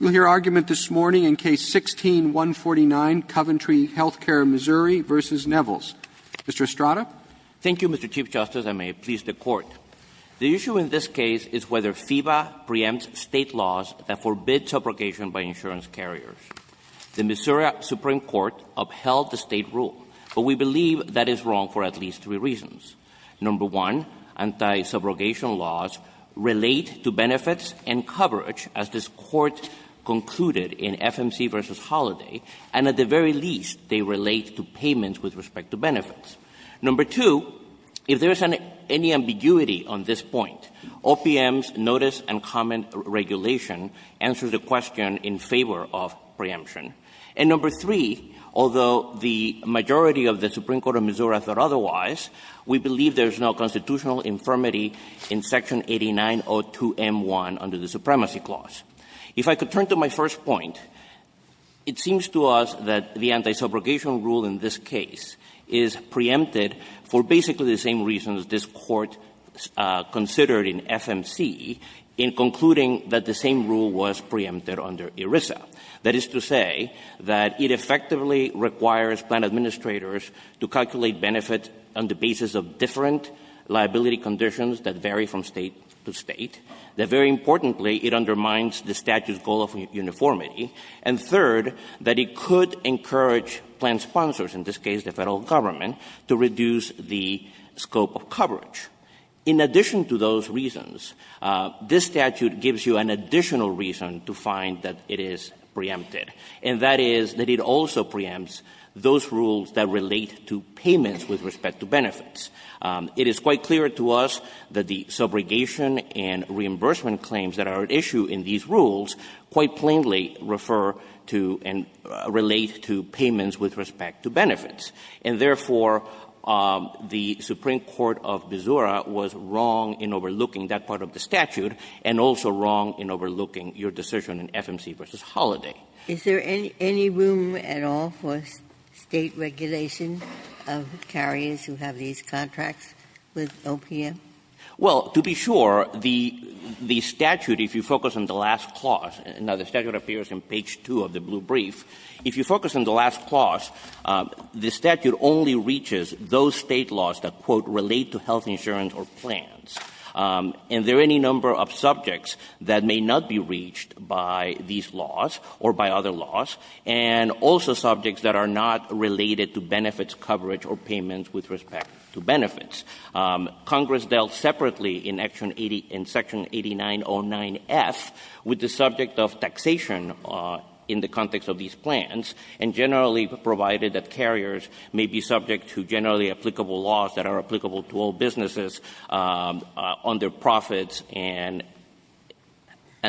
We'll hear argument this morning in Case 16-149, Coventry Health Care, Missouri v. Nevils. Mr. Estrada. Thank you, Mr. Chief Justice, and may it please the Court. The issue in this case is whether FEBA preempts State laws that forbid subrogation by insurance carriers. The Missouri Supreme Court upheld the State rule, but we believe that is wrong for at least three reasons. Number one, anti-subrogation laws relate to benefits and coverage, as this Court concluded in FMC v. Holiday, and at the very least, they relate to payments with respect to benefits. Number two, if there is any ambiguity on this point, OPM's notice and comment regulation answers the question in favor of preemption. And number three, although the majority of the Supreme Court of Missouri thought otherwise, we believe there is no constitutional infirmity in Section 8902M1 under the Supremacy Clause. If I could turn to my first point, it seems to us that the anti-subrogation rule in this case is preempted for basically the same reasons this Court considered in FMC in concluding that the same rule was preempted under ERISA. That is to say that it effectively requires plan administrators to calculate benefits on the basis of different liability conditions that vary from State to State, that very importantly, it undermines the statute's goal of uniformity, and third, that it could encourage plan sponsors, in this case the Federal Government, to reduce the scope of coverage. In addition to those reasons, this statute gives you an additional reason to find that it is preempted, and that is that it also preempts those rules that relate to payments with respect to benefits. It is quite clear to us that the subrogation and reimbursement claims that are at issue in these rules quite plainly refer to and relate to payments with respect to benefits. And therefore, the Supreme Court of Missouri was wrong in overlooking that part of the Is there any room at all for State regulation of carriers who have these contracts with OPM? Well, to be sure, the statute, if you focus on the last clause, now, the statute appears in page 2 of the blue brief. If you focus on the last clause, the statute only reaches those State laws that, quote, relate to health insurance or plans. And there are any number of subjects that may not be reached by these laws or by other laws, and also subjects that are not related to benefits coverage or payments with respect to benefits. Congress dealt separately in Section 8909F with the subject of taxation in the context of these plans, and generally provided that carriers may be subject to generally applicable laws that are applicable to all businesses on their profits and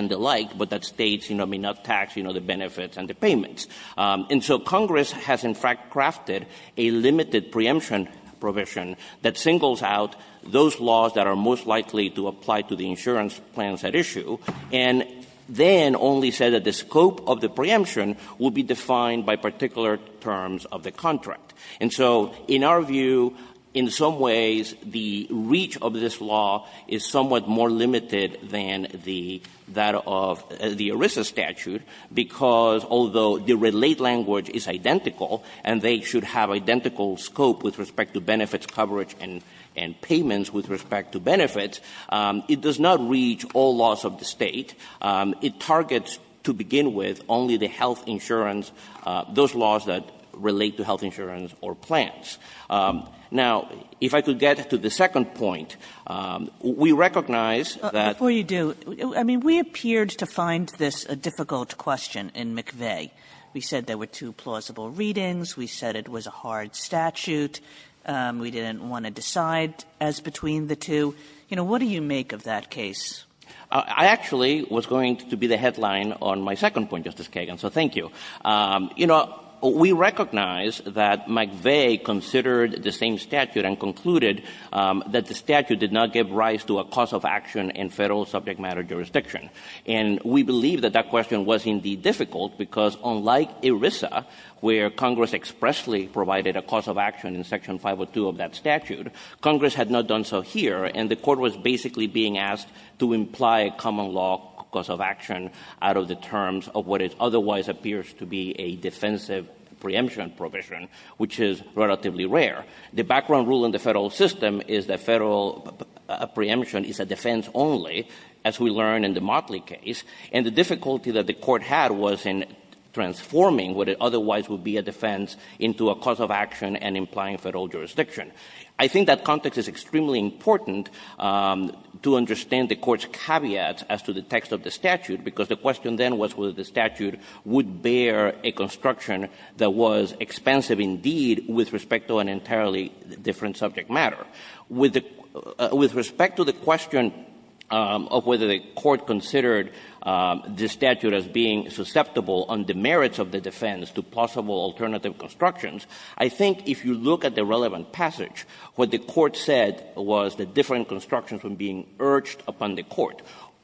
the like, but that States may not tax the benefits and the payments. And so Congress has, in fact, crafted a limited preemption provision that singles out those laws that are most likely to apply to the insurance plans at issue, and then only said that the scope of the preemption would be defined by particular terms of the contract. And so, in our view, in some ways, the reach of this law is somewhat more limited than the that of the ERISA statute, because although the relate language is identical and they should have identical scope with respect to benefits coverage and payments with respect to benefits, it does not reach all laws of the State. It targets, to begin with, only the health insurance, those laws that relate to health insurance or plans. Now, if I could get to the second point, we recognize that — Kagan. Before you do, I mean, we appeared to find this a difficult question in McVeigh. We said there were two plausible readings. We said it was a hard statute. We didn't want to decide as between the two. You know, what do you make of that case? Martinez. I actually was going to be the headline on my second point, Justice Kagan, so thank you. You know, we recognize that McVeigh considered the same statute and concluded that the statute did not give rise to a cause of action in Federal subject matter jurisdiction. And we believe that that question was indeed difficult, because unlike ERISA, where Congress expressly provided a cause of action in Section 502 of that statute, Congress had not done so here, and the Court was basically being asked to imply a common law cause of action out of the terms of what otherwise appears to be a defensive preemption provision, which is relatively rare. The background rule in the Federal system is that Federal preemption is a defense only, as we learned in the Motley case, and the difficulty that the Court had was in transforming what otherwise would be a defense into a cause of action and implying Federal jurisdiction. I think that context is extremely important to understand the Court's caveat as to the text of the statute, because the question then was whether the statute would bear a construction that was expensive indeed with respect to an entirely different subject matter. With respect to the question of whether the Court considered the statute as being susceptible on the merits of the defense to possible alternative constructions, I think if you look at the relevant passage, what the Court said was that different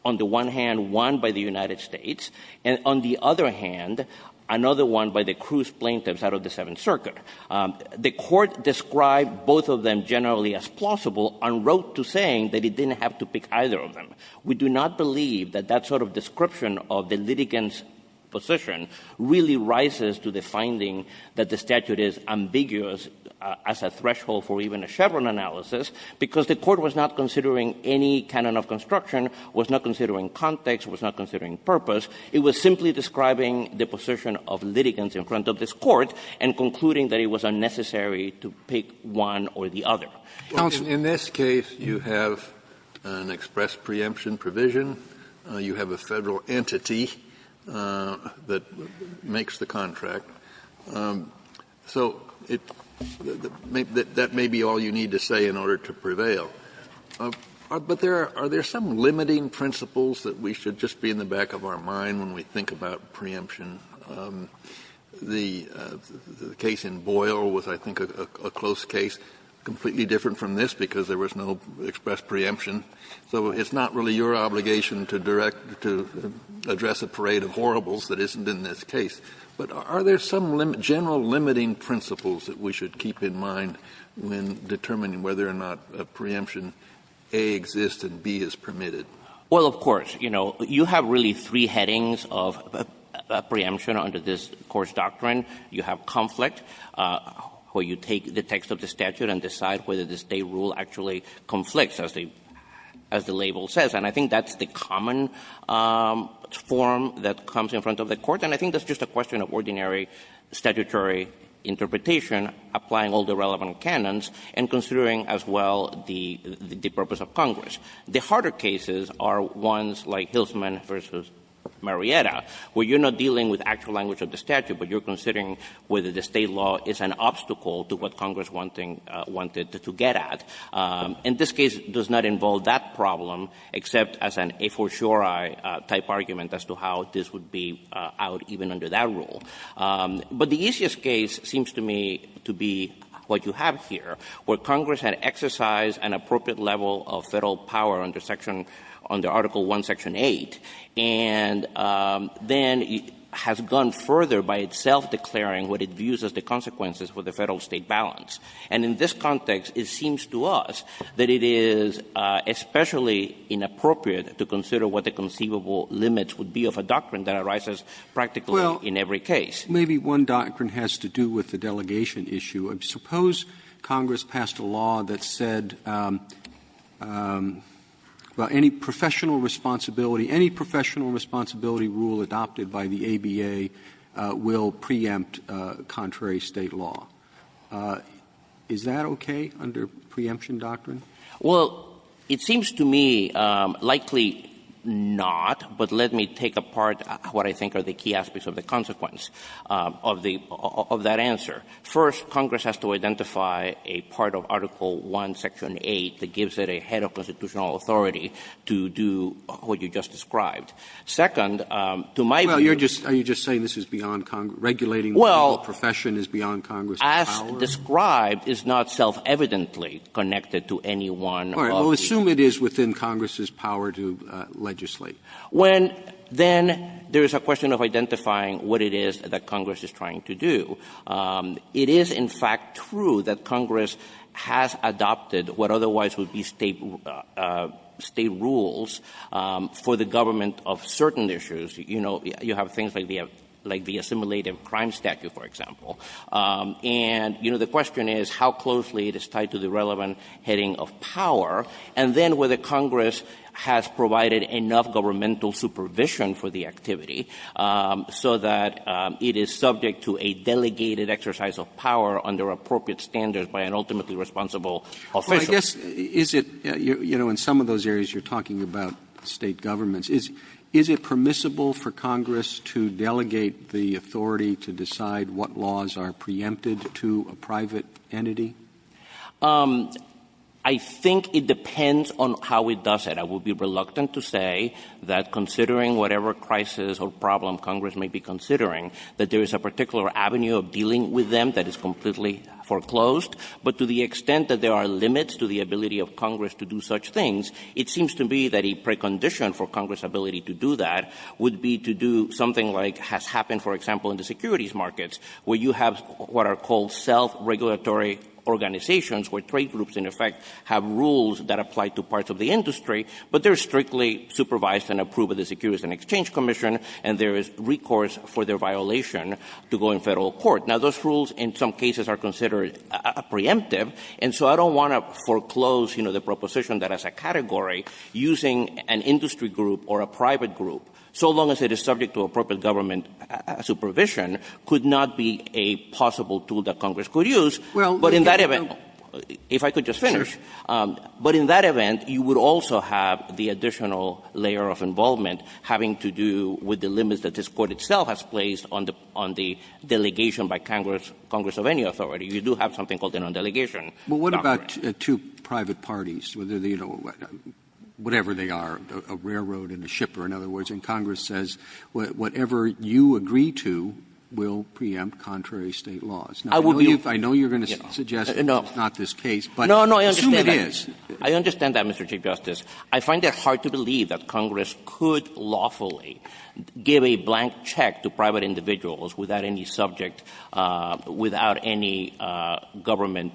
on the one hand, one by the United States, and on the other hand, another one by the Cruz plaintiffs out of the Seventh Circuit. The Court described both of them generally as plausible, unwrote to saying that it didn't have to pick either of them. We do not believe that that sort of description of the litigant's position really rises to the finding that the statute is ambiguous as a threshold for even a Chevron analysis, because the Court was not considering any canon of construction, was not considering context, was not considering purpose. It was simply describing the position of litigants in front of this Court and concluding that it was unnecessary to pick one or the other. Kennedy, in this case, you have an express preemption provision. You have a Federal entity that makes the contract. So that may be all you need to say in order to prevail. But there are some limiting principles that we should just be in the back of our mind when we think about preemption. The case in Boyle was, I think, a close case, completely different from this because there was no express preemption. So it's not really your obligation to direct, to address a parade of horribles that isn't in this case. But are there some general limiting principles that we should keep in mind when determining whether or not a preemption, A, exists and B, is permitted? Well, of course. You know, you have really three headings of preemption under this Court's doctrine. You have conflict, where you take the text of the statute and decide whether the state rule actually conflicts, as the label says. And I think that's the common form that comes in front of the Court. And I think that's just a question of ordinary statutory interpretation, applying all the relevant canons, and considering as well the purpose of Congress. The harder cases are ones like Hilsman v. Marietta, where you're not dealing with actual language of the statute, but you're considering whether the state law is an obstacle to what Congress wanted to get at. And this case does not involve that problem, except as an a for sure-I type argument as to how this would be out even under that rule. But the easiest case seems to me to be what you have here, where Congress had exercised an appropriate level of Federal power under section — under Article I, Section 8, and then has gone further by itself declaring what it views as the consequences for the Federal-State balance. And in this context, it seems to us that it is especially inappropriate to consider what the conceivable limits would be of a doctrine that arises practically in every case. Roberts Well, maybe one doctrine has to do with the delegation issue. Suppose Congress passed a law that said, well, any professional responsibility — any professional responsibility rule adopted by the ABA will preempt contrary State law. Is that okay under preemption doctrine? Estrada Well, it seems to me likely not, but let me take apart what I think are the key aspects of the consequence of the — of that answer. First, Congress has to identify a part of Article I, Section 8 that gives it a head of constitutional authority to do what you just described. Second, to my view — Roberts Well, you're just — are you just saying this is beyond — regulating the Federal profession is beyond Congress's power? Estrada Well, as described, it's not self-evidently connected to any one of these. Roberts All right. Well, assume it is within Congress's power to legislate. When then there is a question of identifying what it is that Congress is trying to do, it is, in fact, true that Congress has adopted what otherwise would be State — State rules for the government of certain issues. You know, you have things like the — like the assimilative crime statute, for example. And, you know, the question is how closely it is tied to the relevant heading of power, and then whether Congress has provided enough governmental supervision for the activity so that it is subject to a delegated exercise of power under appropriate standards by an ultimately responsible official. Roberts Well, I guess, is it — you know, in some of those areas you're talking about State governments, is — is it permissible for Congress to delegate the authority to decide what laws are preempted to a private entity? Estrada I think it depends on how it does it. I would be reluctant to say that considering whatever crisis or problem Congress may be considering, that there is a particular avenue of dealing with them that is completely foreclosed, but to the extent that there are limits to the ability of Congress to do such things, it seems to be that a precondition for Congress' ability to do that would be to do something like has happened, for example, in the securities markets, where you have what are called self-regulatory organizations, where trade groups, in effect, have rules that apply to parts of the industry, but they're strictly supervised and approved by the Securities and Exchange Commission, and there is recourse for their violation to go in Federal court. Now, those rules in some cases are considered preemptive, and so I don't want to foreclose, you know, the proposition that as a category, using an industry group or a private group, so long as it is subject to appropriate government supervision, could not be a possible tool that Congress could use, but in that event, if I could just finish, but in that event, you would also have the additional layer of involvement having to do with the limits that this Court itself has placed on the delegation by Congress of any authority. You do have something called the non-delegation doctrine. Robertson Well, what about two private parties, whether they're, you know, whatever they are, a railroad and a shipper, in other words, and Congress says whatever you agree to will preempt contrary State laws? Now, I know you're going to suggest it's not this case, but assume it is. Estrada No, no, I understand that. I understand that, Mr. Chief Justice. I find it hard to believe that Congress could lawfully give a blank check to private individuals without any subject, without any government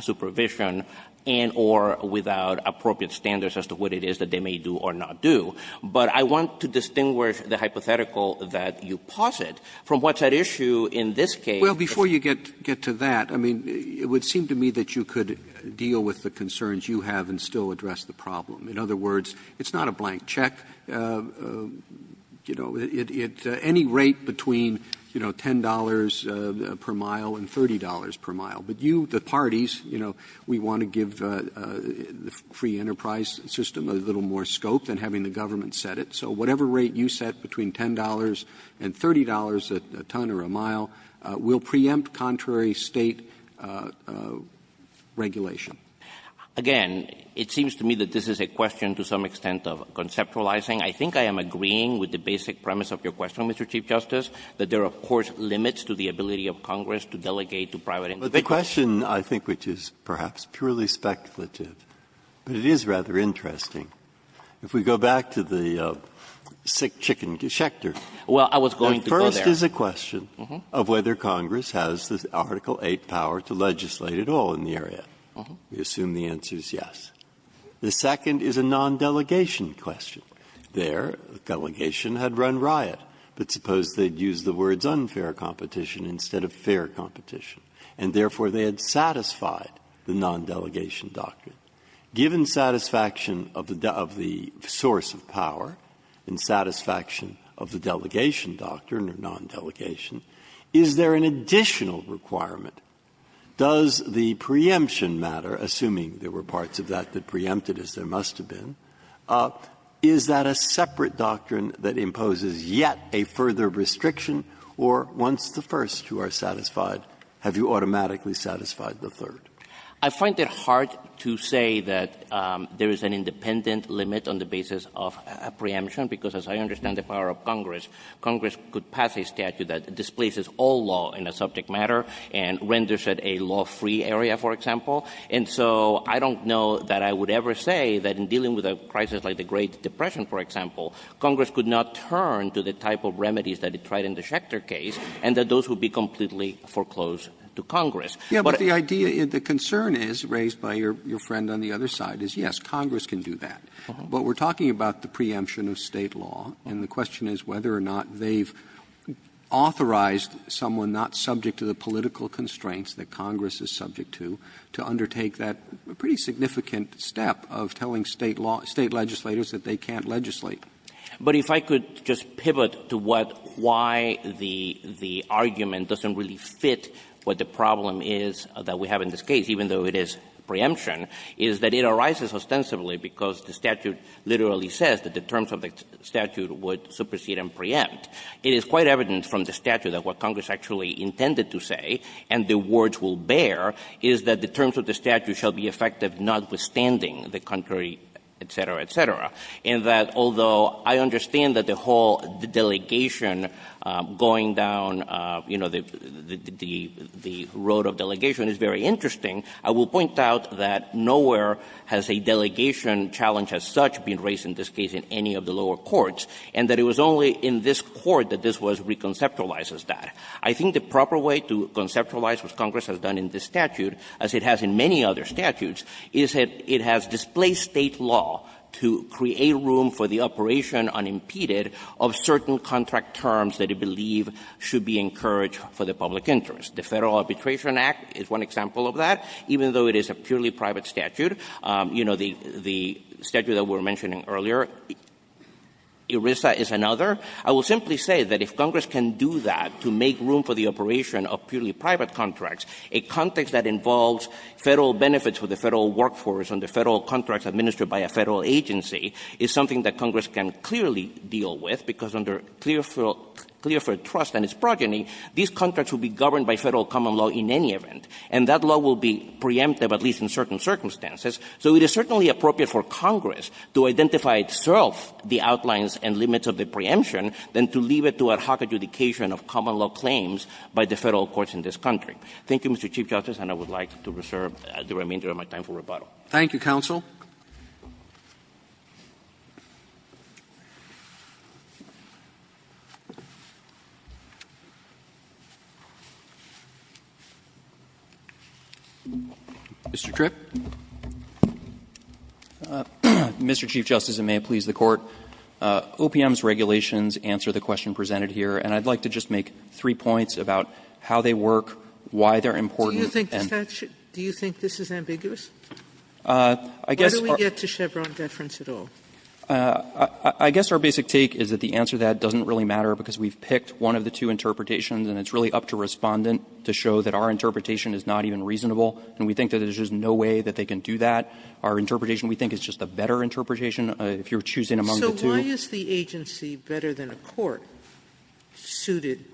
supervision, and or without appropriate standards as to what it is that they may do or not do. But I want to distinguish the hypothetical that you posit from what's at issue in this case. Robertson Well, before you get to that, I mean, it would seem to me that you could deal with the concerns you have and still address the problem. In other words, it's not a blank check. You know, at any rate between, you know, $10 per mile and $30 per mile. But you, the parties, you know, we want to give the free enterprise system a little more scope than having the government set it. So whatever rate you set between $10 and $30 a ton or a mile will preempt contrary State regulation. Estrada No. Again, it seems to me that this is a question to some extent of conceptualizing. I think I am agreeing with the basic premise of your question, Mr. Chief Justice, that there are, of course, limits to the ability of Congress to delegate to private companies. Breyer But the question, I think, which is perhaps purely speculative, but it is rather interesting, if we go back to the sick chicken geschechter, the first is a question of whether Congress has the Article VIII power to legislate at all in the area. We assume the answer is yes. The second is a non-delegation question. There, delegation had run riot, but suppose they had used the words unfair competition instead of fair competition. And therefore, they had satisfied the non-delegation doctrine. Given satisfaction of the source of power and satisfaction of the delegation doctrine or non-delegation, is there an additional requirement? Does the preemption matter, assuming there were parts of that that preempted as there must have been, is that a separate doctrine that imposes yet a further restriction, or once the first two are satisfied, have you automatically satisfied the third? I find it hard to say that there is an independent limit on the basis of a preemption because, as I understand the power of Congress, Congress could pass a statute that displaces all law in a subject matter and renders it a law-free area, for example. And so I don't know that I would ever say that in dealing with a crisis like the Great Depression, for example, Congress could not turn to the type of remedies that it tried in the Schecter case and that those would be completely foreclosed to Congress. But the idea, the concern is, raised by your friend on the other side, is, yes, Congress can do that. But we're talking about the preemption of State law, and the question is whether or not they've authorized someone not subject to the political constraints that Congress is subject to, to undertake that pretty significant step of telling State legislators that they can't legislate. But if I could just pivot to what why the argument doesn't really fit what the problem is that we have in this case, even though it is preemption, is that it arises ostensibly because the statute literally says that the terms of the statute would supersede and preempt. It is quite evident from the statute that what Congress actually intended to say, and the words will bear, is that the terms of the statute shall be effective notwithstanding the contrary, et cetera, et cetera, and that although I understand that the whole delegation going down, you know, the road of delegation is very interesting, I will point out that nowhere has a delegation challenge as such been raised in this case in any of the lower courts, and that it was only in this Court that this was reconceptualized as that. I think the proper way to conceptualize what Congress has done in this statute, as it has in many other statutes, is that it has displaced State law to create room for the operation unimpeded of certain contract terms that it believes should be encouraged for the public interest. The Federal Arbitration Act is one example of that. Even though it is a purely private statute, you know, the statute that we were mentioning earlier, ERISA is another. I will simply say that if Congress can do that to make room for the operation of purely private contracts, a context that involves Federal benefits for the Federal workforce and the Federal contracts administered by a Federal agency is something that Congress can clearly deal with, because under Clearfield Trust and its progeny, these contracts would be governed by Federal common law in any event, and that law will be preemptive at least in certain circumstances. So it is certainly appropriate for Congress to identify itself the outlines and limits of the preemption than to leave it to ad hoc adjudication of common law claims by the Federal courts in this country. Thank you, Mr. Chief Justice, and I would like to reserve the remainder of my time for rebuttal. Roberts. Thank you, counsel. Mr. Tripp. Mr. Chief Justice, and may it please the Court. OPM's regulations answer the question presented here, and I'd like to just make three points about how they work, why they're important, and do you think this is ambiguous? Why do we get to Chevron deference at all? I guess our basic take is that the answer to that doesn't really matter, because we've picked one of the two interpretations, and it's really up to Respondent to show that our interpretation is not even reasonable, and we think that there's just no way that they can do that. Our interpretation, we think, is just a better interpretation, if you're choosing among the two. So why is the agency, better than a court, suited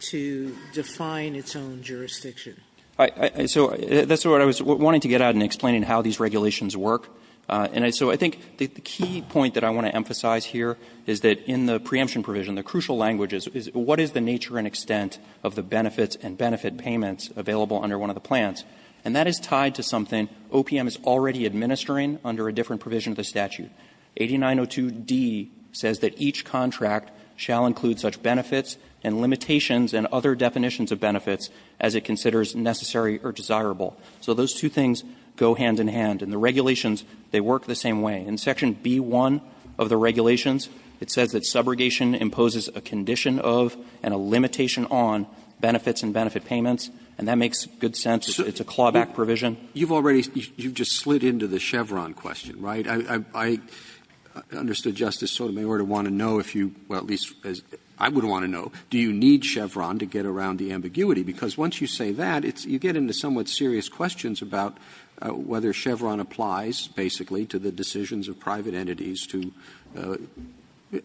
to define its own jurisdiction? So that's what I was wanting to get at in explaining how these regulations work. And so I think the key point that I want to emphasize here is that in the preemption provision, the crucial language is what is the nature and extent of the benefits and benefit payments available under one of the plans, and that is tied to something OPM is already administering under a different provision of the statute. 8902d says that each contract shall include such benefits and limitations and other definitions of benefits as it considers necessary or desirable. So those two things go hand in hand, and the regulations, they work the same way. In section B-1 of the regulations, it says that subrogation imposes a condition of and a limitation on benefits and benefit payments, and that makes good sense. It's a clawback provision. Roberts You've already you've just slid into the Chevron question, right? I understood Justice Sotomayor to want to know if you, well, at least I would want to know, do you need Chevron to get around the ambiguity? Because once you say that, it's you get into somewhat serious questions about whether Chevron applies, basically, to the decisions of private entities to,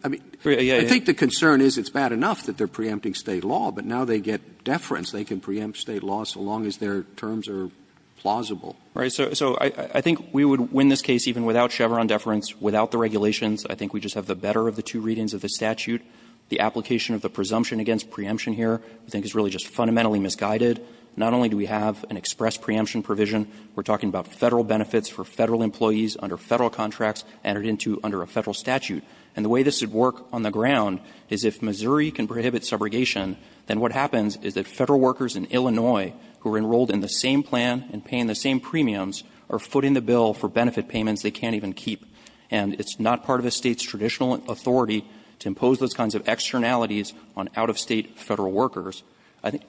I mean, I think the concern is it's bad enough that they're preempting State law, but now they get deference. They can preempt State law so long as their terms are plausible. So I think we would win this case even without Chevron deference, without the regulations. I think we just have the better of the two readings of the statute. The application of the presumption against preemption here I think is really just fundamentally misguided. Not only do we have an express preemption provision, we're talking about Federal benefits for Federal employees under Federal contracts entered into under a Federal statute. And the way this would work on the ground is if Missouri can prohibit subrogation, then what happens is that Federal workers in Illinois who are enrolled in the same plan and paying the same premiums are footing the bill for benefit payments they can't even keep. And it's not part of a State's traditional authority to impose those kinds of externalities on out-of-State Federal workers.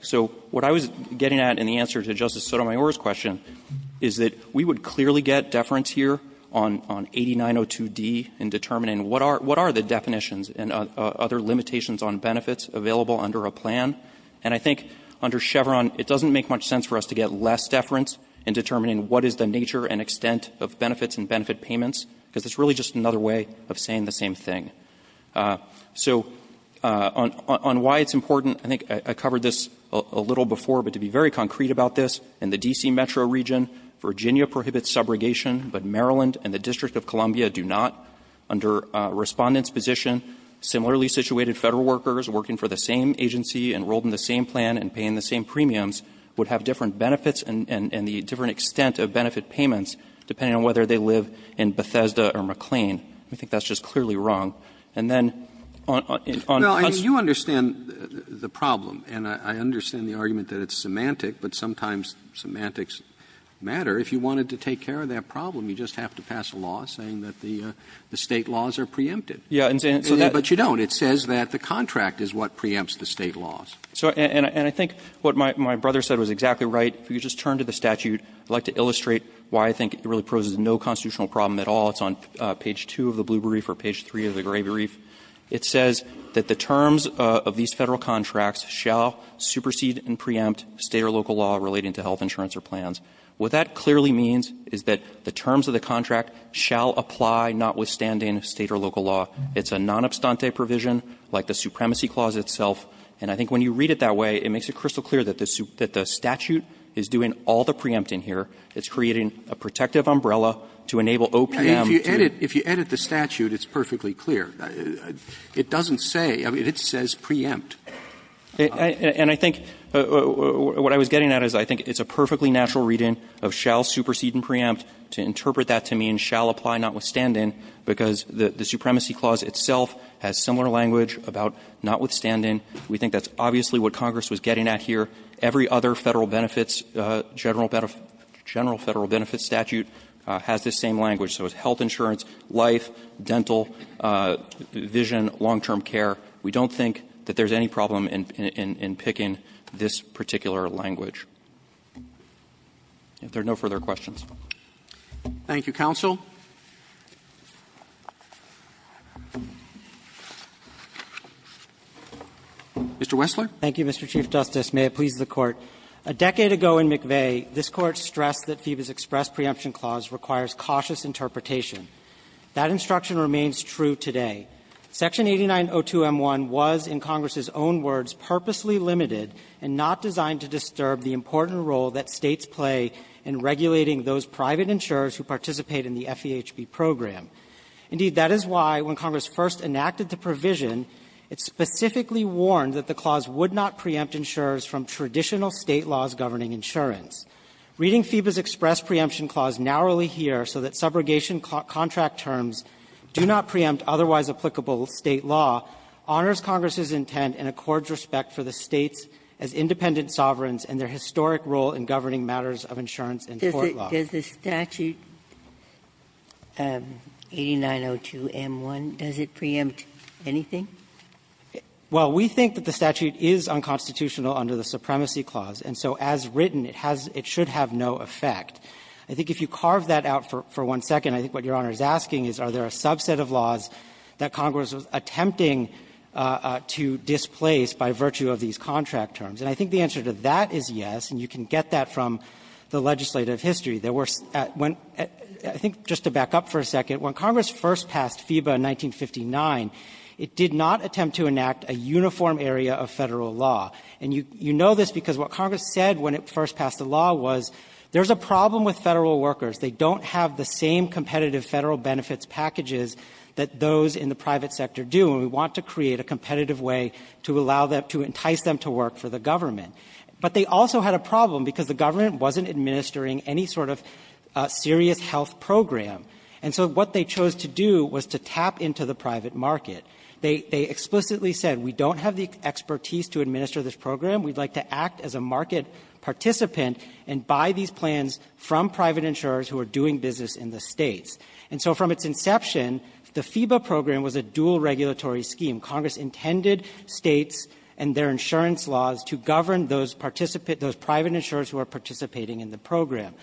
So what I was getting at in the answer to Justice Sotomayor's question is that we would clearly get deference here on 8902d in determining what are the definitions and other limitations on benefits available under a plan. And I think under Chevron, it doesn't make much sense for us to get less deference in determining what is the nature and extent of benefits and benefit payments, because it's really just another way of saying the same thing. So on why it's important, I think I covered this a little before, but to be very concrete about this, in the D.C. metro region, Virginia prohibits subrogation, but Maryland and the District of Columbia do not. Under Respondent's position, similarly situated Federal workers working for the same agency, enrolled in the same plan and paying the same premiums would have different benefits and the different extent of benefit payments depending on whether they live in Bethesda or McLean. I think that's just clearly wrong. And then on the customer's side. Roberts, you understand the problem, and I understand the argument that it's semantic, but sometimes semantics matter. If you wanted to take care of that problem, you just have to pass a law saying that the State laws are preempted. But you don't. It says that the contract is what preempts the State laws. So and I think what my brother said was exactly right. If you just turn to the statute, I'd like to illustrate why I think it really poses no constitutional problem at all. It's on page 2 of the Blue Brief or page 3 of the Gray Brief. It says that the terms of these Federal contracts shall supersede and preempt State or local law relating to health insurance or plans. What that clearly means is that the terms of the contract shall apply notwithstanding State or local law. It's a non-abstante provision like the Supremacy Clause itself. And I think when you read it that way, it makes it crystal clear that the statute is doing all the preempting here. It's creating a protective umbrella to enable OPM to do that. Roberts, if you edit the statute, it's perfectly clear. It doesn't say or it says preempt. And I think what I was getting at is I think it's a perfectly natural reading of shall supersede and preempt to interpret that to mean shall apply notwithstanding because the Supremacy Clause itself has similar language about notwithstanding. We think that's obviously what Congress was getting at here. Every other Federal benefits, general benefits, general Federal benefits statute has this same language. So it's health insurance, life, dental, vision, long-term care. We don't think that there's any problem in picking this particular language. If there are no further questions. Roberts. Thank you, counsel. Mr. Wessler. Thank you, Mr. Chief Justice. May it please the Court. A decade ago in McVeigh, this Court stressed that FEBA's express preemption clause requires cautious interpretation. That instruction remains true today. Section 8902M1 was, in Congress's own words, purposely limited and not designed to disturb the important role that States play in regulating those private insurers who participate in the FEHB program. Indeed, that is why when Congress first enacted the provision, it specifically warned that the clause would not preempt insurers from traditional State laws governing insurance. Reading FEBA's express preemption clause narrowly here so that subrogation contract terms do not preempt otherwise applicable State law honors Congress's intent and accords respect for the States as independent sovereigns and their historic role in governing matters of insurance and court law. Does the statute 8902M1, does it preempt anything? Well, we think that the statute is unconstitutional under the supremacy clause, and so as written, it has to have no effect. I think if you carve that out for one second, I think what Your Honor is asking is are there a subset of laws that Congress was attempting to displace by virtue of these contract terms. And I think the answer to that is yes, and you can get that from the legislative history. There were at one – I think just to back up for a second, when Congress first passed FEBA in 1959, it did not attempt to enact a uniform area of Federal law. And you know this because what Congress said when it first passed the law was there is a problem with Federal workers. They don't have the same competitive Federal benefits packages that those in the private sector do, and we want to create a competitive way to allow them to entice them to work for the government. But they also had a problem because the government wasn't administering any sort of serious health program. And so what they chose to do was to tap into the private market. They explicitly said we don't have the expertise to administer this program. We'd like to act as a market participant and buy these plans from private insurers who are doing business in the States. And so from its inception, the FEBA program was a dual regulatory scheme. Congress intended States and their insurance laws to govern those private insurers who are participating in the program.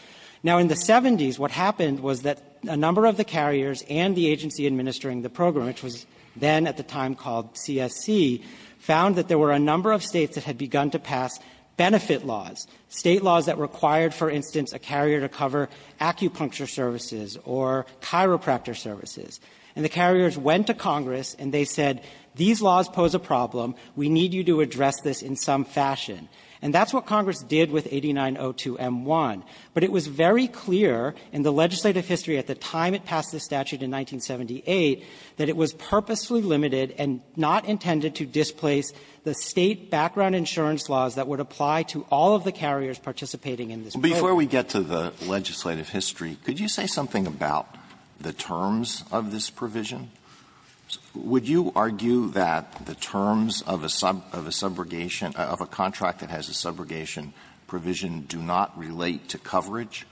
Now, in the 70s, what happened was that a number of the carriers and the agency administering the program, which was then at the time called CSC, found that there were a number of States that had begun to pass benefit laws, State laws that required, for instance, a carrier to cover acupuncture services or chiropractor services. And the carriers went to Congress and they said, these laws pose a problem. We need you to address this in some fashion. And that's what Congress did with 8902m-1. But it was very clear in the legislative history at the time it passed the statute in 1978 that it was purposefully limited and not intended to displace the State background insurance laws that would apply to all of the carriers participating in this program. Alitoso, before we get to the legislative history, could you say something about the terms of this provision? Would you argue that the terms of a subrogation of a contract that has a subrogation provision do not relate to coverage?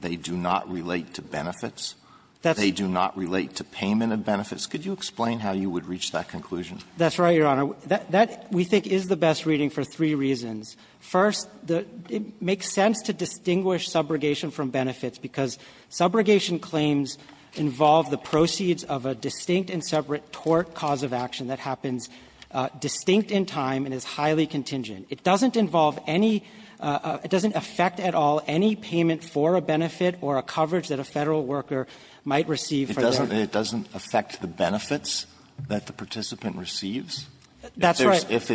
They do not relate to benefits? They do not relate to payment of benefits? Could you explain how you would reach that conclusion? That's right, Your Honor. That, we think, is the best reading for three reasons. First, it makes sense to distinguish subrogation from benefits because subrogation claims involve the proceeds of a distinct and separate tort cause of action that happens distinct in time and is highly contingent. It doesn't involve any — it doesn't affect at all any payment for a benefit or a coverage that a Federal worker might receive from their — It doesn't affect the benefits that the participant receives? That's right. If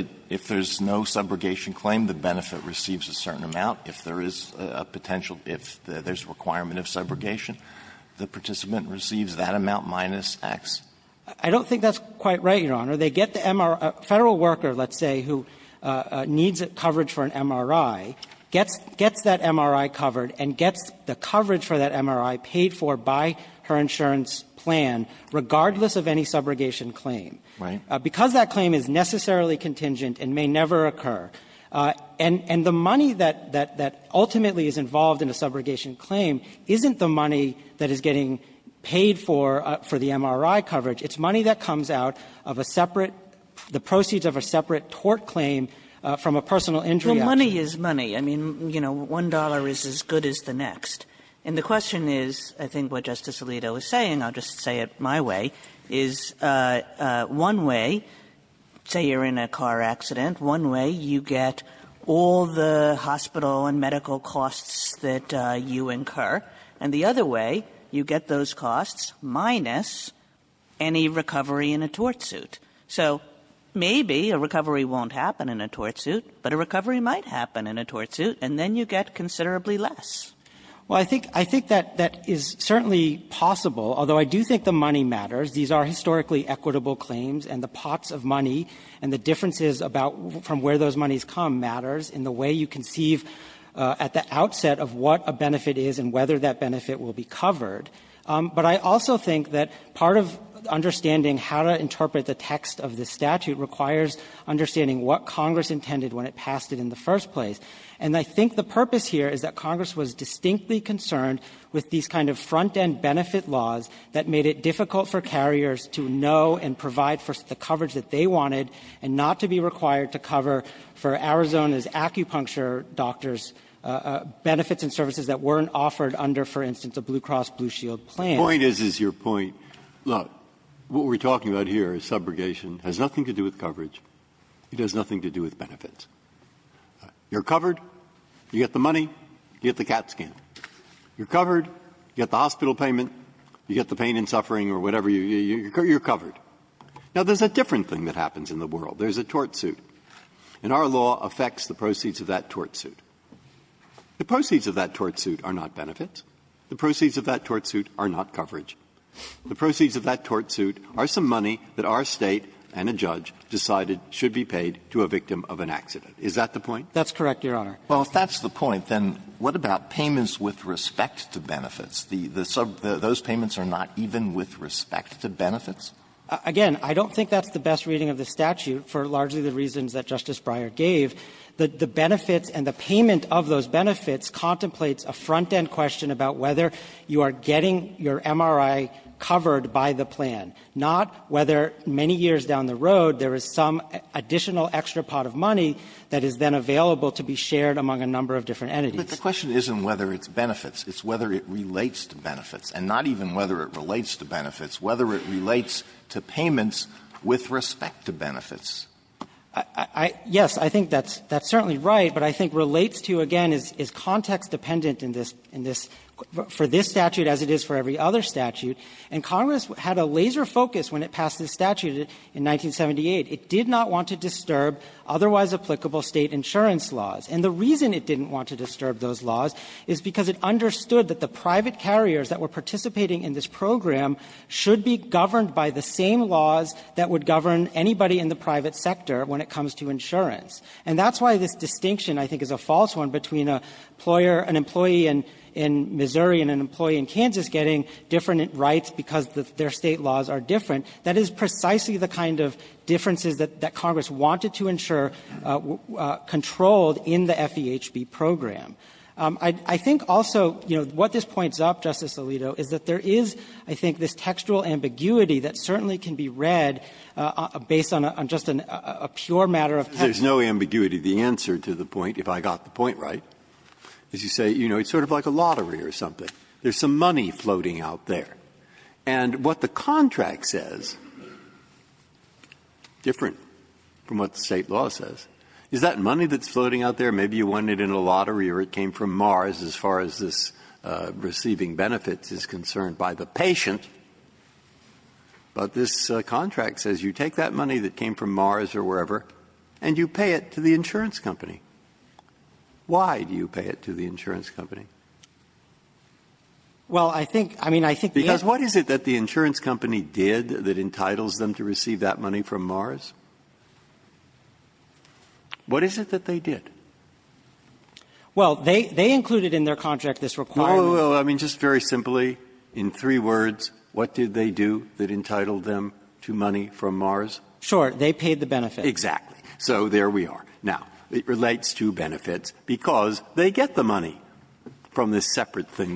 there's no subrogation claim, the benefit receives a certain amount. If there is a potential — if there's a requirement of subrogation, the participant receives that amount minus X. I don't think that's quite right, Your Honor. They get the — a Federal worker, let's say, who needs coverage for an MRI, gets that MRI covered and gets the coverage for that MRI paid for by her insurance plan, regardless of any subrogation claim. Right. Because that claim is necessarily contingent and may never occur. And the money that ultimately is involved in a subrogation claim isn't the money that is getting paid for, for the MRI coverage. It's money that comes out of a separate — the proceeds of a separate tort claim from a personal injury action. Well, money is money. I mean, you know, $1 is as good as the next. And the question is, I think what Justice Alito is saying, I'll just say it my way, is one way, say you're in a car accident, one way you get all the hospital and medical costs that you incur, and the other way you get those costs, minus any recovery in a tort suit. So maybe a recovery won't happen in a tort suit, but a recovery might happen in a tort suit, and then you get considerably less. Well, I think — I think that that is certainly possible, although I do think the money matters. These are historically equitable claims, and the pots of money and the differences about from where those monies come matters in the way you conceive at the outset of what a benefit is and whether that benefit will be covered. But I also think that part of understanding how to interpret the text of the statute requires understanding what Congress intended when it passed it in the first place. And I think the purpose here is that Congress was distinctly concerned with these kind of front-end benefit laws that made it difficult for carriers to know and provide for the coverage that they wanted and not to be required to cover for Arizona's acupuncture doctors' benefits and services that weren't offered under, for instance, a Blue Cross Blue Shield plan. Breyer's point is, is your point, look, what we're talking about here is subrogation has nothing to do with coverage. It has nothing to do with benefits. You're covered. You get the money. You get the CAT scan. You're covered. You get the hospital payment. You get the pain and suffering or whatever. You're covered. Now, there's a different thing that happens in the world. There's a tort suit. And our law affects the proceeds of that tort suit. The proceeds of that tort suit are not benefits. The proceeds of that tort suit are not coverage. The proceeds of that tort suit are some money that our State and a judge decided should be paid to a victim of an accident. Is that the point? That's correct, Your Honor. Well, if that's the point, then what about payments with respect to benefits? The sub --"those payments are not even with respect to benefits"? Again, I don't think that's the best reading of the statute for largely the reasons that Justice Breyer gave. The benefits and the payment of those benefits contemplates a front-end question about whether you are getting your MRI covered by the plan, not whether many years down the road there is some additional extra pot of money that is then available to be shared among a number of different entities. But the question isn't whether it's benefits. It's whether it relates to benefits, and not even whether it relates to benefits. Whether it relates to payments with respect to benefits. Yes, I think that's certainly right, but I think relates to, again, is context dependent in this for this statute as it is for every other statute. And Congress had a laser focus when it passed this statute in 1978. It did not want to disturb otherwise applicable State insurance laws. And the reason it didn't want to disturb those laws is because it understood that the private carriers that were participating in this program should be governed by the same laws that would govern anybody in the private sector when it comes to insurance. And that's why this distinction, I think, is a false one between an employer an employee in Missouri and an employee in Kansas getting different rights because their State laws are different. That is precisely the kind of differences that Congress wanted to ensure controlled in the FEHB program. I think also, you know, what this points up, Justice Alito, is that there is, I think, this textual ambiguity that certainly can be read based on just a pure matter of text. Breyer. Breyer. There's no ambiguity. The answer to the point, if I got the point right, is you say, you know, it's sort of like a lottery or something. There's some money floating out there. And what the contract says, different from what the State law says, is that money that's floating out there, maybe you won it in a lottery or it came from Mars as far as this receiving benefits is concerned by the patient, but this contract says you take that money that came from Mars or wherever and you pay it to the insurance company. Why do you pay it to the insurance company? Well, I think the answer is because the insurance company did that entitles them to receive that money from Mars. What is it that they did? Well, they included in their contract this requirement. No, no, no. I mean, just very simply, in three words, what did they do that entitled them to money from Mars? Sure. They paid the benefits. Exactly. So there we are. Now, it relates to benefits because they get the money from this separate thing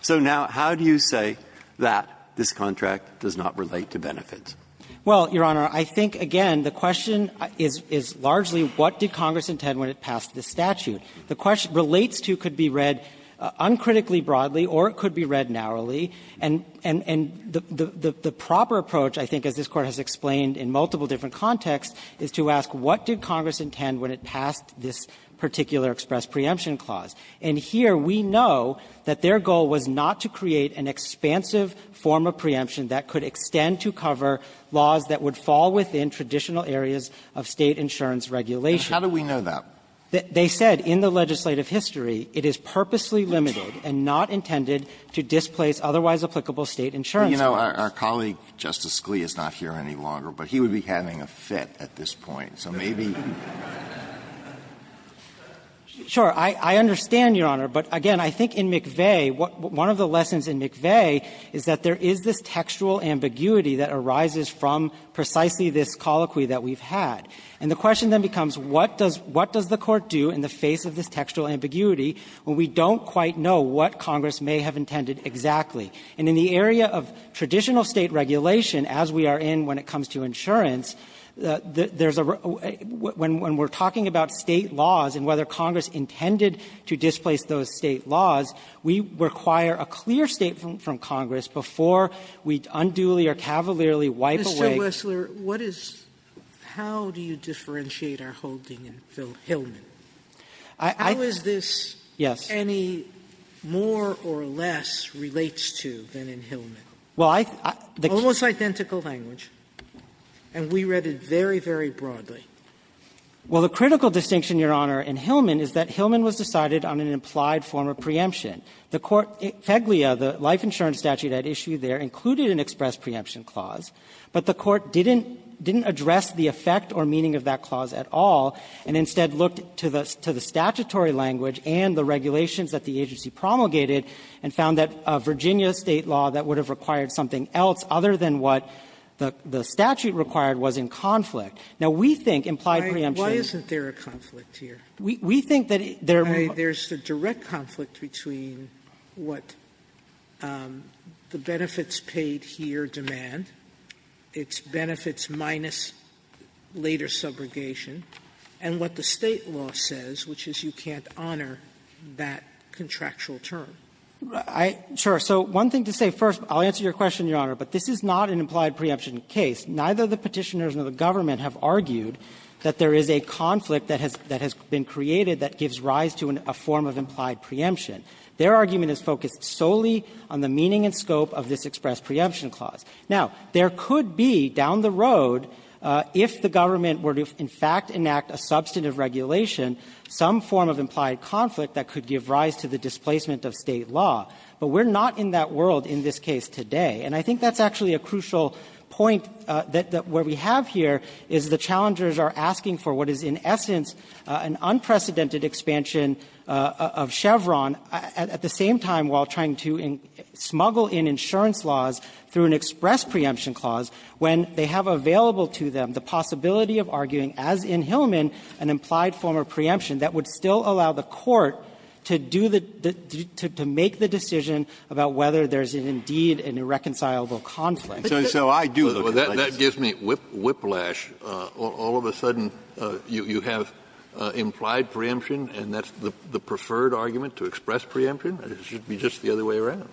So now how do you say that this contract does not relate to benefits? Well, Your Honor, I think, again, the question is largely what did Congress intend when it passed this statute. The question relates to could be read uncritically broadly or it could be read narrowly. And the proper approach, I think, as this Court has explained in multiple different contexts, is to ask what did Congress intend when it passed this particular express preemption clause. And here we know that their goal was not to create an expansive form of preemption that could extend to cover laws that would fall within traditional areas of State insurance regulation. How do we know that? They said in the legislative history, it is purposely limited and not intended to displace otherwise applicable State insurance laws. You know, our colleague, Justice Scalia, is not here any longer, but he would be having a fit at this point. So maybe he would be having a fit at this point. Sure. I understand, Your Honor, but again, I think in McVeigh, one of the lessons in McVeigh is that there is this textual ambiguity that arises from precisely this colloquy that we've had. And the question then becomes, what does the Court do in the face of this textual ambiguity when we don't quite know what Congress may have intended exactly? And in the area of traditional State regulation, as we are in when it comes to insurance, there's a real question. And so, in order to enforce those State laws, we require a clear statement from Congress before we unduly or cavalierly wipe away. Sotomayor, what is how do you differentiate our holding in Hillman? How is this any more or less relates to than in Hillman? Well, I think almost identical language, and we read it very, very broadly. Well, the critical distinction, Your Honor, in Hillman is that Hillman was decided on an implied form of preemption. The Court, FEGLIA, the life insurance statute at issue there, included an express preemption clause. But the Court didn't address the effect or meaning of that clause at all, and instead looked to the statutory language and the regulations that the agency promulgated and found that a Virginia State law that would have required something else other than what the statute required was in conflict. Now, we think implied preemption Why isn't there a conflict here? We think that there There's a direct conflict between what the benefits paid here demand, its benefits minus later subrogation, and what the State law says, which is you can't honor that contractual term. Sure. So one thing to say, first, I'll answer your question, Your Honor, but this is not an implied preemption case. Neither the Petitioners nor the government have argued that there is a conflict that has been created that gives rise to a form of implied preemption. Their argument is focused solely on the meaning and scope of this express preemption clause. Now, there could be, down the road, if the government were to, in fact, enact a substantive regulation, some form of implied conflict that could give rise to the displacement of State law. But we're not in that world in this case today, and I think that's actually a crucial point that what we have here is the challengers are asking for what is, in essence, an unprecedented expansion of Chevron, at the same time while trying to smuggle in insurance laws through an express preemption clause, when they have available to them the possibility of arguing, as in Hillman, an implied form of preemption that would still allow the Court to do the to make the decision about whether there's indeed an irreconcilable conflict. So I do look at it like this. Kennedy, that gives me whiplash. All of a sudden, you have implied preemption and that's the preferred argument to express preemption? It should be just the other way around.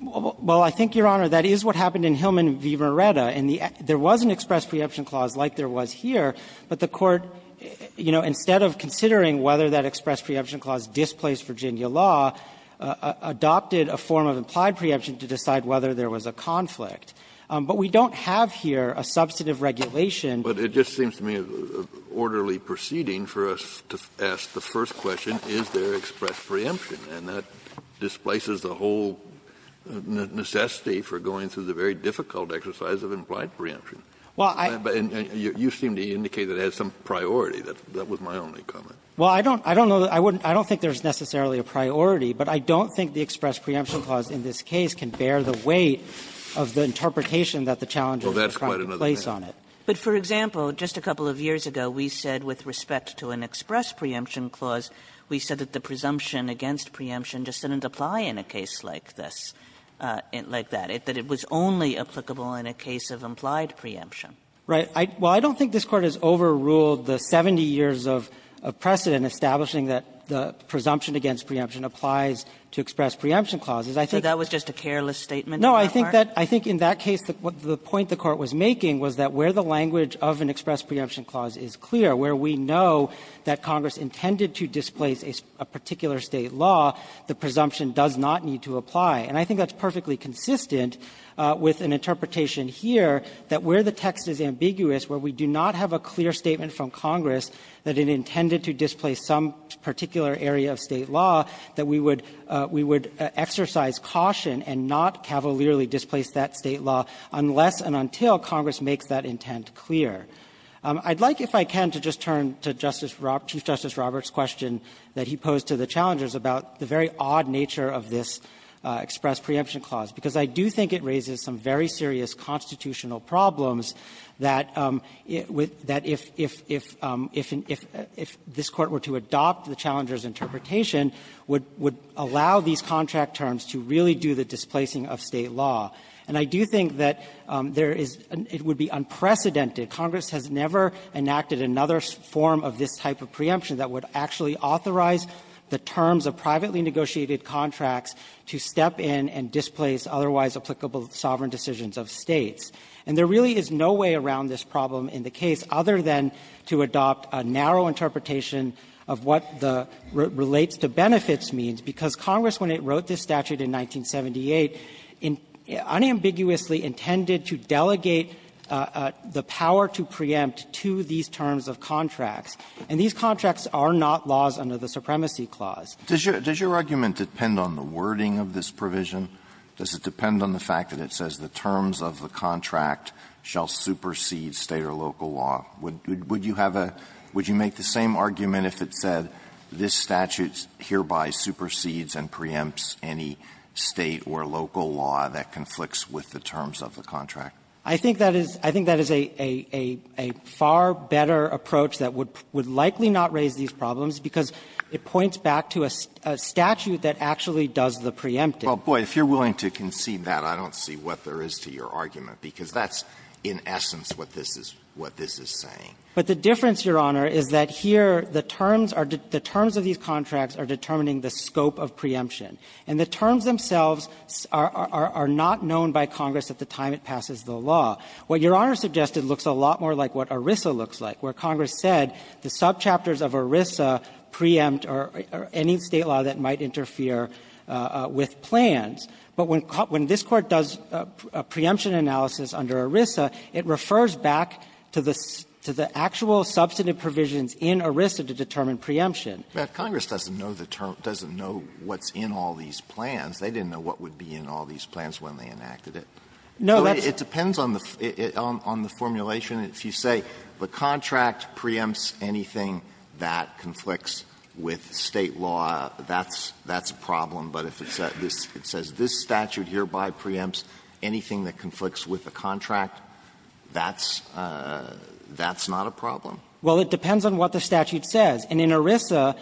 Well, I think, Your Honor, that is what happened in Hillman v. Verretta. And there was an express preemption clause like there was here, but the Court, you know, instead of considering whether that express preemption clause displaced Virginia law, adopted a form of implied preemption to decide whether there was a conflict. But we don't have here a substantive regulation. But it just seems to me an orderly proceeding for us to ask the first question, is there express preemption? And that displaces the whole necessity for going through the very difficult exercise of implied preemption. Well, I don't know. And you seem to indicate that it has some priority. That was my only comment. Well, I don't know that – I don't think there's necessarily a priority, but I don't think the express preemption clause in this case can bear the weight of the interpretation that the challenges in the Crimean case place on it. But, for example, just a couple of years ago, we said with respect to an express preemption clause, we said that the presumption against preemption just didn't apply in a case like this, like that. That it was only applicable in a case of implied preemption. Right. Well, I don't think this Court has overruled the 70 years of precedent establishing that the presumption against preemption applies to express preemption clauses. I think – So that was just a careless statement in your part? No. I think that – I think in that case, the point the Court was making was that where the language of an express preemption clause is clear, where we know that Congress intended to displace a particular State law, the presumption does not need to apply. And I think that's perfectly consistent with an interpretation here that where the text is ambiguous, where we do not have a clear statement from Congress that it intended to displace some particular area of State law, that we would – we would exercise caution and not cavalierly displace that State law unless and until Congress makes that intent clear. I'd like, if I can, to just turn to Justice – Chief Justice Roberts' question that he posed to the challengers about the very odd nature of this express preemption clause, because I do think it raises some very serious constitutional problems that – that if – if – if – if – if there is a presumption that if this Court were to adopt the challenger's interpretation, would – would allow these contract terms to really do the displacing of State law. And I do think that there is – it would be unprecedented. Congress has never enacted another form of this type of preemption that would actually authorize the terms of privately negotiated contracts to step in and displace otherwise applicable sovereign decisions of States. And there really is no way around this problem in the case other than to adopt a narrow interpretation of what the – relates to benefits means, because Congress, when it wrote this statute in 1978, unambiguously intended to delegate the power to preempt to these terms of contracts. And these contracts are not laws under the Supremacy Clause. Alitoso, does your argument depend on the wording of this provision? Does it depend on the fact that it says the terms of the contract shall supersede State or local law? Would – would you have a – would you make the same argument if it said this statute hereby supersedes and preempts any State or local law that conflicts with the terms of the contract? I think that is – I think that is a – a – a far better approach that would – would likely not raise these problems, because it points back to a statute that actually does the preempting. Well, boy, if you're willing to concede that, I don't see what there is to your argument, because that's, in essence, what this is – what this is saying. But the difference, Your Honor, is that here the terms are – the terms of these contracts are determining the scope of preemption. And the terms themselves are – are not known by Congress at the time it passes the law. What Your Honor suggested looks a lot more like what ERISA looks like, where Congress said the subchapters of ERISA preempt or any State law that might interfere with plans. But when – when this Court does a preemption analysis under ERISA, it refers back to the – to the actual substantive provisions in ERISA to determine preemption. Alito, Congress doesn't know the term – doesn't know what's in all these plans. They didn't know what would be in all these plans when they enacted it. No, that's the question. It depends on the – on the formulation. If you say the contract preempts anything that conflicts with State law, that's – that's a problem. But if it says this statute hereby preempts anything that conflicts with the contract, that's – that's not a problem. Well, it depends on what the statute says. And in ERISA,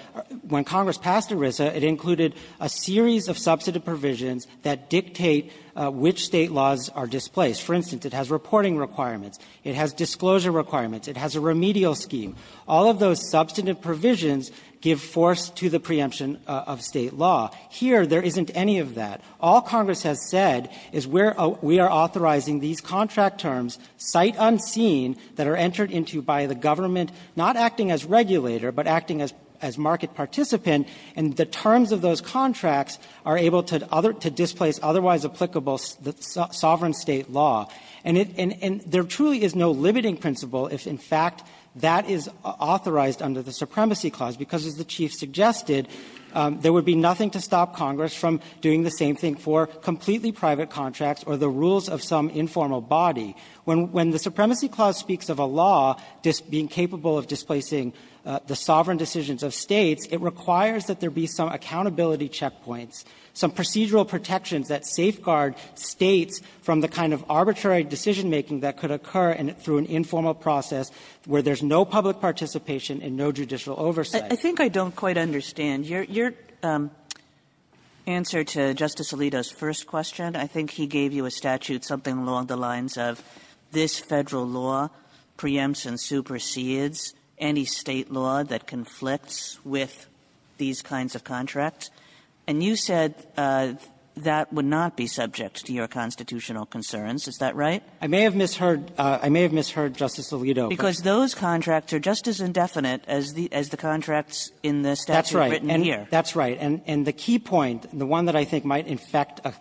when Congress passed ERISA, it included a series of substantive provisions that dictate which State laws are displaced. For instance, it has reporting requirements, it has disclosure requirements, it has a remedial scheme. All of those substantive provisions give force to the preemption of State law. Here, there isn't any of that. All Congress has said is we're – we are authorizing these contract terms, cite unseen, that are entered into by the government, not acting as regulator, but acting as – as market participant, and the terms of those contracts are able to – to displace otherwise applicable sovereign State law. And it – and there truly is no limiting principle if, in fact, that is authorized under the Supremacy Clause, because as the Chief suggested, there would be nothing to stop Congress from doing the same thing for completely private contracts or the rules of some informal body. When the Supremacy Clause speaks of a law being capable of displacing the sovereign decisions of States, it requires that there be some accountability checkpoints, some procedural protections that safeguard States from the kind of arbitrary decision-making that could occur through an informal process where there's no public participation and no judicial oversight. Kagan, I think I don't quite understand. Your – your answer to Justice Alito's first question, I think he gave you a statute, something along the lines of this Federal law preempts and supersedes any State law that conflicts with these kinds of contracts. And you said that would not be subject to your constitutional concerns. Is that right? Katyala, I may have misheard – I may have misheard Justice Alito. Because those contracts are just as indefinite as the – as the contracts in the statute written here. That's right. And the key point, the one that I think might infect a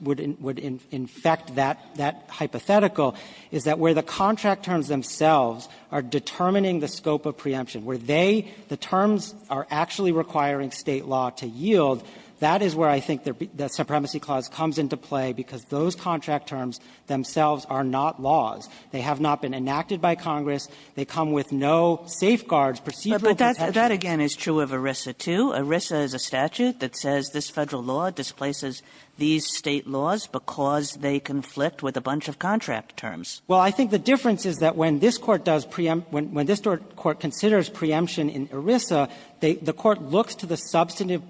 – would infect that hypothetical is that where the contract terms themselves are determining the scope of preemption, where they – the terms are actually requiring State law to yield, that is where I think the Supremacy Clause comes into play, because those contract terms themselves are not laws. They have not been enacted by Congress. They come with no safeguards, procedural protections. But that's – that, again, is true of ERISA, too. ERISA is a statute that says this Federal law displaces these State laws because they conflict with a bunch of contract terms. Well, I think the difference is that when this Court does preempt – when this Court considers preemption in ERISA, they – the Court looks to the substantive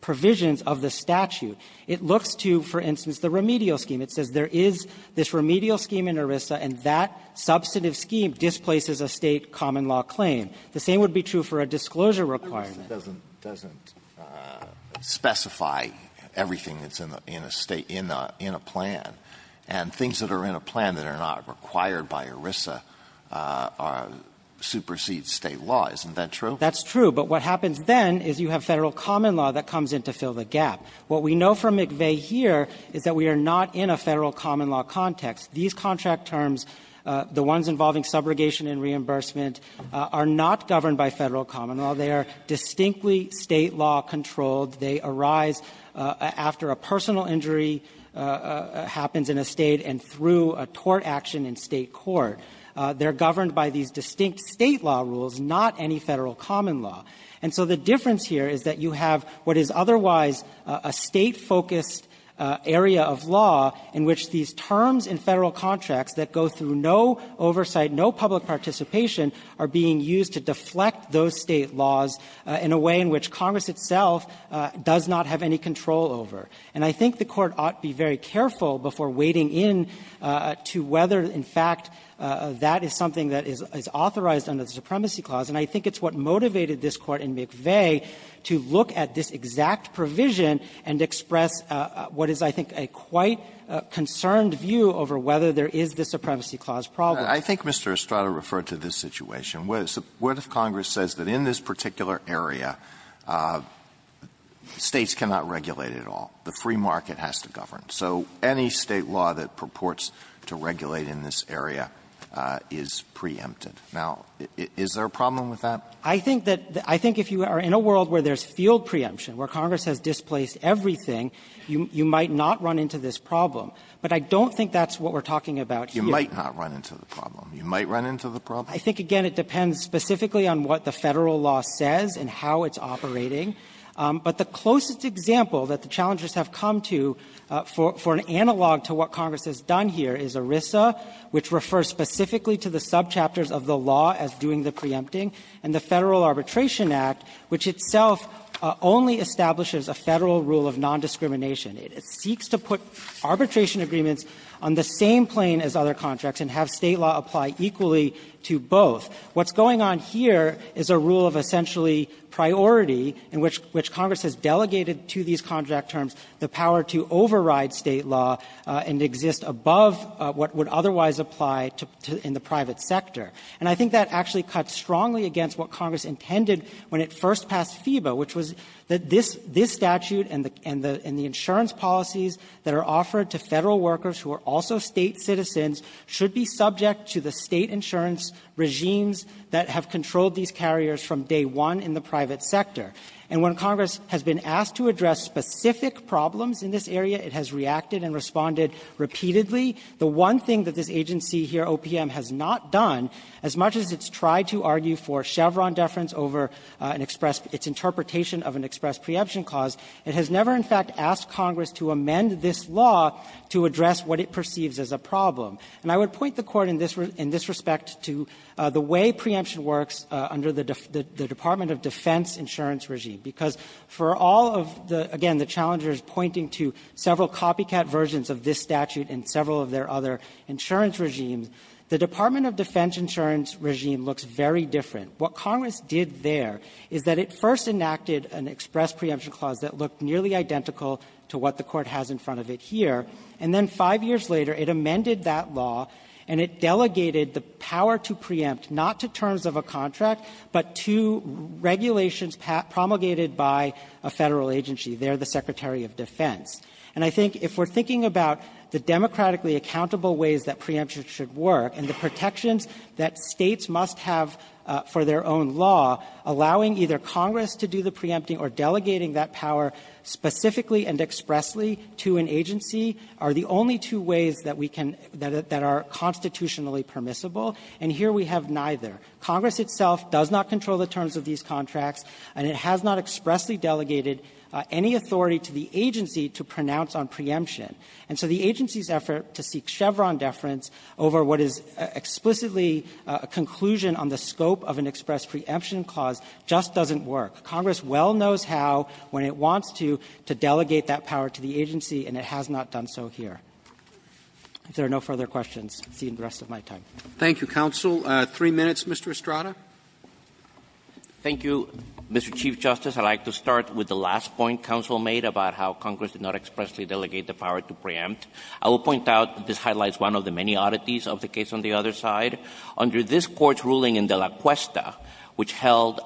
provisions of the statute. It looks to, for instance, the remedial scheme. It says there is this remedial scheme in ERISA, and that substantive scheme displaces a State common law claim. The same would be true for a disclosure requirement. It doesn't – it doesn't specify everything that's in a State – in a plan. And things that are in a plan that are not required by ERISA are – supersede State law. Isn't that true? That's true. But what happens then is you have Federal common law that comes in to fill the gap. What we know from McVeigh here is that we are not in a Federal common law context. These contract terms, the ones involving subrogation and reimbursement, are not governed by Federal common law. They are distinctly State law controlled. They arise after a personal injury happens in a State and through a tort action in State court. They're governed by these distinct State law rules, not any Federal common law. And so the difference here is that you have what is otherwise a State-focused area of law in which these terms in Federal contracts that go through no oversight, no public participation, are being used to deflect those State laws in a way in which Congress itself does not have any control over. And I think the Court ought to be very careful before wading in to whether, in fact, that is something that is authorized under the Supremacy Clause. And I think it's what motivated this Court in McVeigh to look at this exact provision and express what is, I think, a quite concerned view over whether there is the Supremacy Clause problem. Alito, I think Mr. Estrada referred to this situation. What if Congress says that in this particular area, States cannot regulate at all? The free market has to govern. So any State law that purports to regulate in this area is preempted. Now, is there a problem with that? I think that the – I think if you are in a world where there's field preemption, where Congress has displaced everything, you might not run into this problem. But I don't think that's what we're talking about here. You might not run into the problem. You might run into the problem. I think, again, it depends specifically on what the Federal law says and how it's operating. But the closest example that the challengers have come to for an analog to what Congress has done here is ERISA, which refers specifically to the subchapters of the law as doing the preempting, and the Federal Arbitration Act, which itself only establishes a Federal rule of nondiscrimination. It seeks to put arbitration agreements on the same plane as other contracts and have What's going on here is a rule of essentially priority in which Congress has delegated to these contract terms the power to override State law and exist above what would otherwise apply to – in the private sector. And I think that actually cuts strongly against what Congress intended when it first passed FIBA, which was that this statute and the insurance policies that are offered to Federal workers who are also State citizens should be subject to the State insurance regimes that have controlled these carriers from day one in the private sector. And when Congress has been asked to address specific problems in this area, it has reacted and responded repeatedly. The one thing that this agency here, OPM, has not done, as much as it's tried to argue for Chevron deference over an express – its interpretation of an express preemption clause, it has never in fact asked Congress to amend this law to address what it perceives as a problem. And I would point the Court in this – in this respect to the way preemption works under the Department of Defense insurance regime, because for all of the – again, the challenger is pointing to several copycat versions of this statute and several of their other insurance regimes. The Department of Defense insurance regime looks very different. What Congress did there is that it first enacted an express preemption clause that looked nearly identical to what the Court has in front of it here, and then five years later, it amended that law, and it delegated the power to preempt not to terms of a contract, but to regulations promulgated by a Federal agency. They're the Secretary of Defense. And I think if we're thinking about the democratically accountable ways that preemption should work and the protections that States must have for their own law, allowing either Congress to do the preempting or delegating that power specifically and expressly to an agency are the only two ways that we can – that are constitutionally permissible, and here we have neither. Congress itself does not control the terms of these contracts, and it has not expressly delegated any authority to the agency to pronounce on preemption. And so the agency's effort to seek Chevron deference over what is explicitly a conclusion on the scope of an express preemption clause just doesn't work. Congress well knows how, when it wants to, to delegate that power to the agency, and it has not done so here. If there are no further questions, I'll see you in the rest of my time. Roberts Thank you, counsel. Three minutes, Mr. Estrada. Estrada Thank you, Mr. Chief Justice. I'd like to start with the last point counsel made about how Congress did not expressly delegate the power to preempt. I will point out that this highlights one of the many oddities of the case on the other side. Under this Court's ruling in De La Cuesta, which held,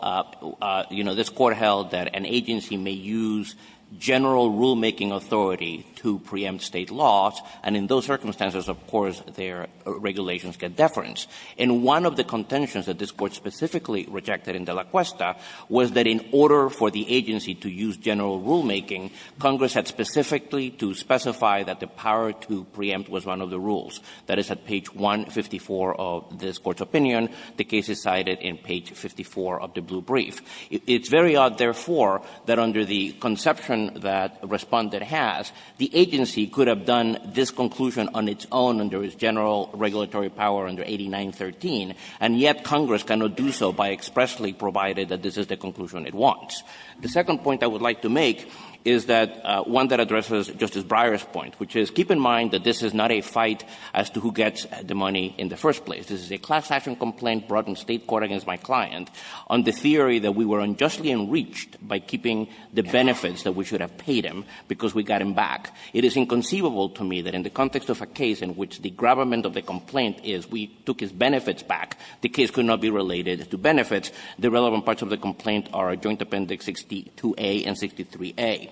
you know, this Court held that an agency may use general rulemaking authority to preempt State laws, and in those circumstances, of course, their regulations get deference. And one of the contentions that this Court specifically rejected in De La Cuesta was that in order for the agency to use general rulemaking, Congress had specifically to specify that the power to preempt was one of the rules. That is at page 154 of this Court's opinion. The case is cited in page 54 of the blue brief. It's very odd, therefore, that under the conception that Respondent has, the agency could have done this conclusion on its own under its general regulatory power under 8913, and yet Congress cannot do so by expressly providing that this is the conclusion it wants. The second point I would like to make is that one that addresses Justice Breyer's point, which is, keep in mind that this is not a fight as to who gets the money in the first place. This is a class-action complaint brought in State court against my client on the theory that we were unjustly enriched by keeping the benefits that we should have paid him because we got him back. It is inconceivable to me that in the context of a case in which the gravamen of the complaint is we took his benefits back, the case could not be related to benefits. The relevant parts of the complaint are Joint Appendix 62a and 63a.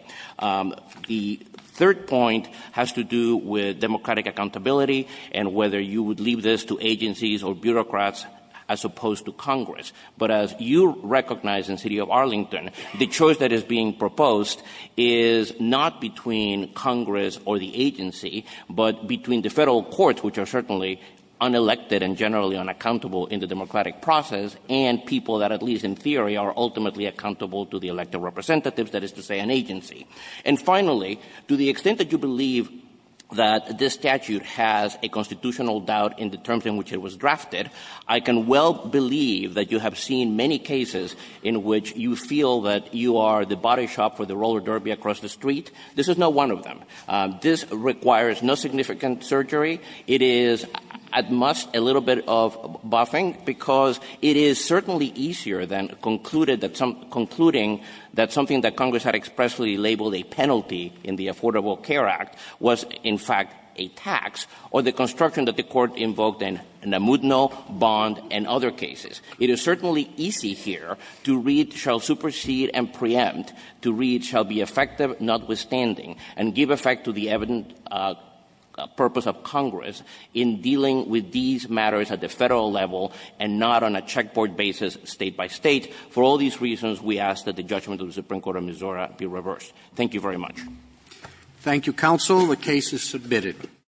The third point has to do with democratic accountability and whether you would leave this to agencies or bureaucrats as opposed to Congress. But as you recognize in the city of Arlington, the choice that is being proposed is not between Congress or the agency, but between the Federal courts, which are certainly unelected and generally unaccountable in the democratic process, and people that at least in theory are ultimately accountable to the elected representatives, that is to say an agency. And finally, to the extent that you believe that this statute has a constitutional doubt in the terms in which it was drafted, I can well believe that you have seen many cases in which you feel that you are the body shop for the roller derby across the street. This is not one of them. This requires no significant surgery. It is at most a little bit of buffing because it is certainly easier than concluding that something that Congress had expressly labeled a penalty in the Affordable Care Act was in fact a tax or the construction that the Court invoked in Namudno, Bond, and other cases. It is certainly easy here to read, shall supersede and preempt, to read, shall be effective notwithstanding, and give effect to the evident purpose of Congress, but it is not easy for Congress in dealing with these matters at the Federal level and not on a check board basis state by state. For all these reasons, we ask that the judgment of the Supreme Court of Missouri be reversed. Thank you very much. Thank you, counsel. The case is submitted.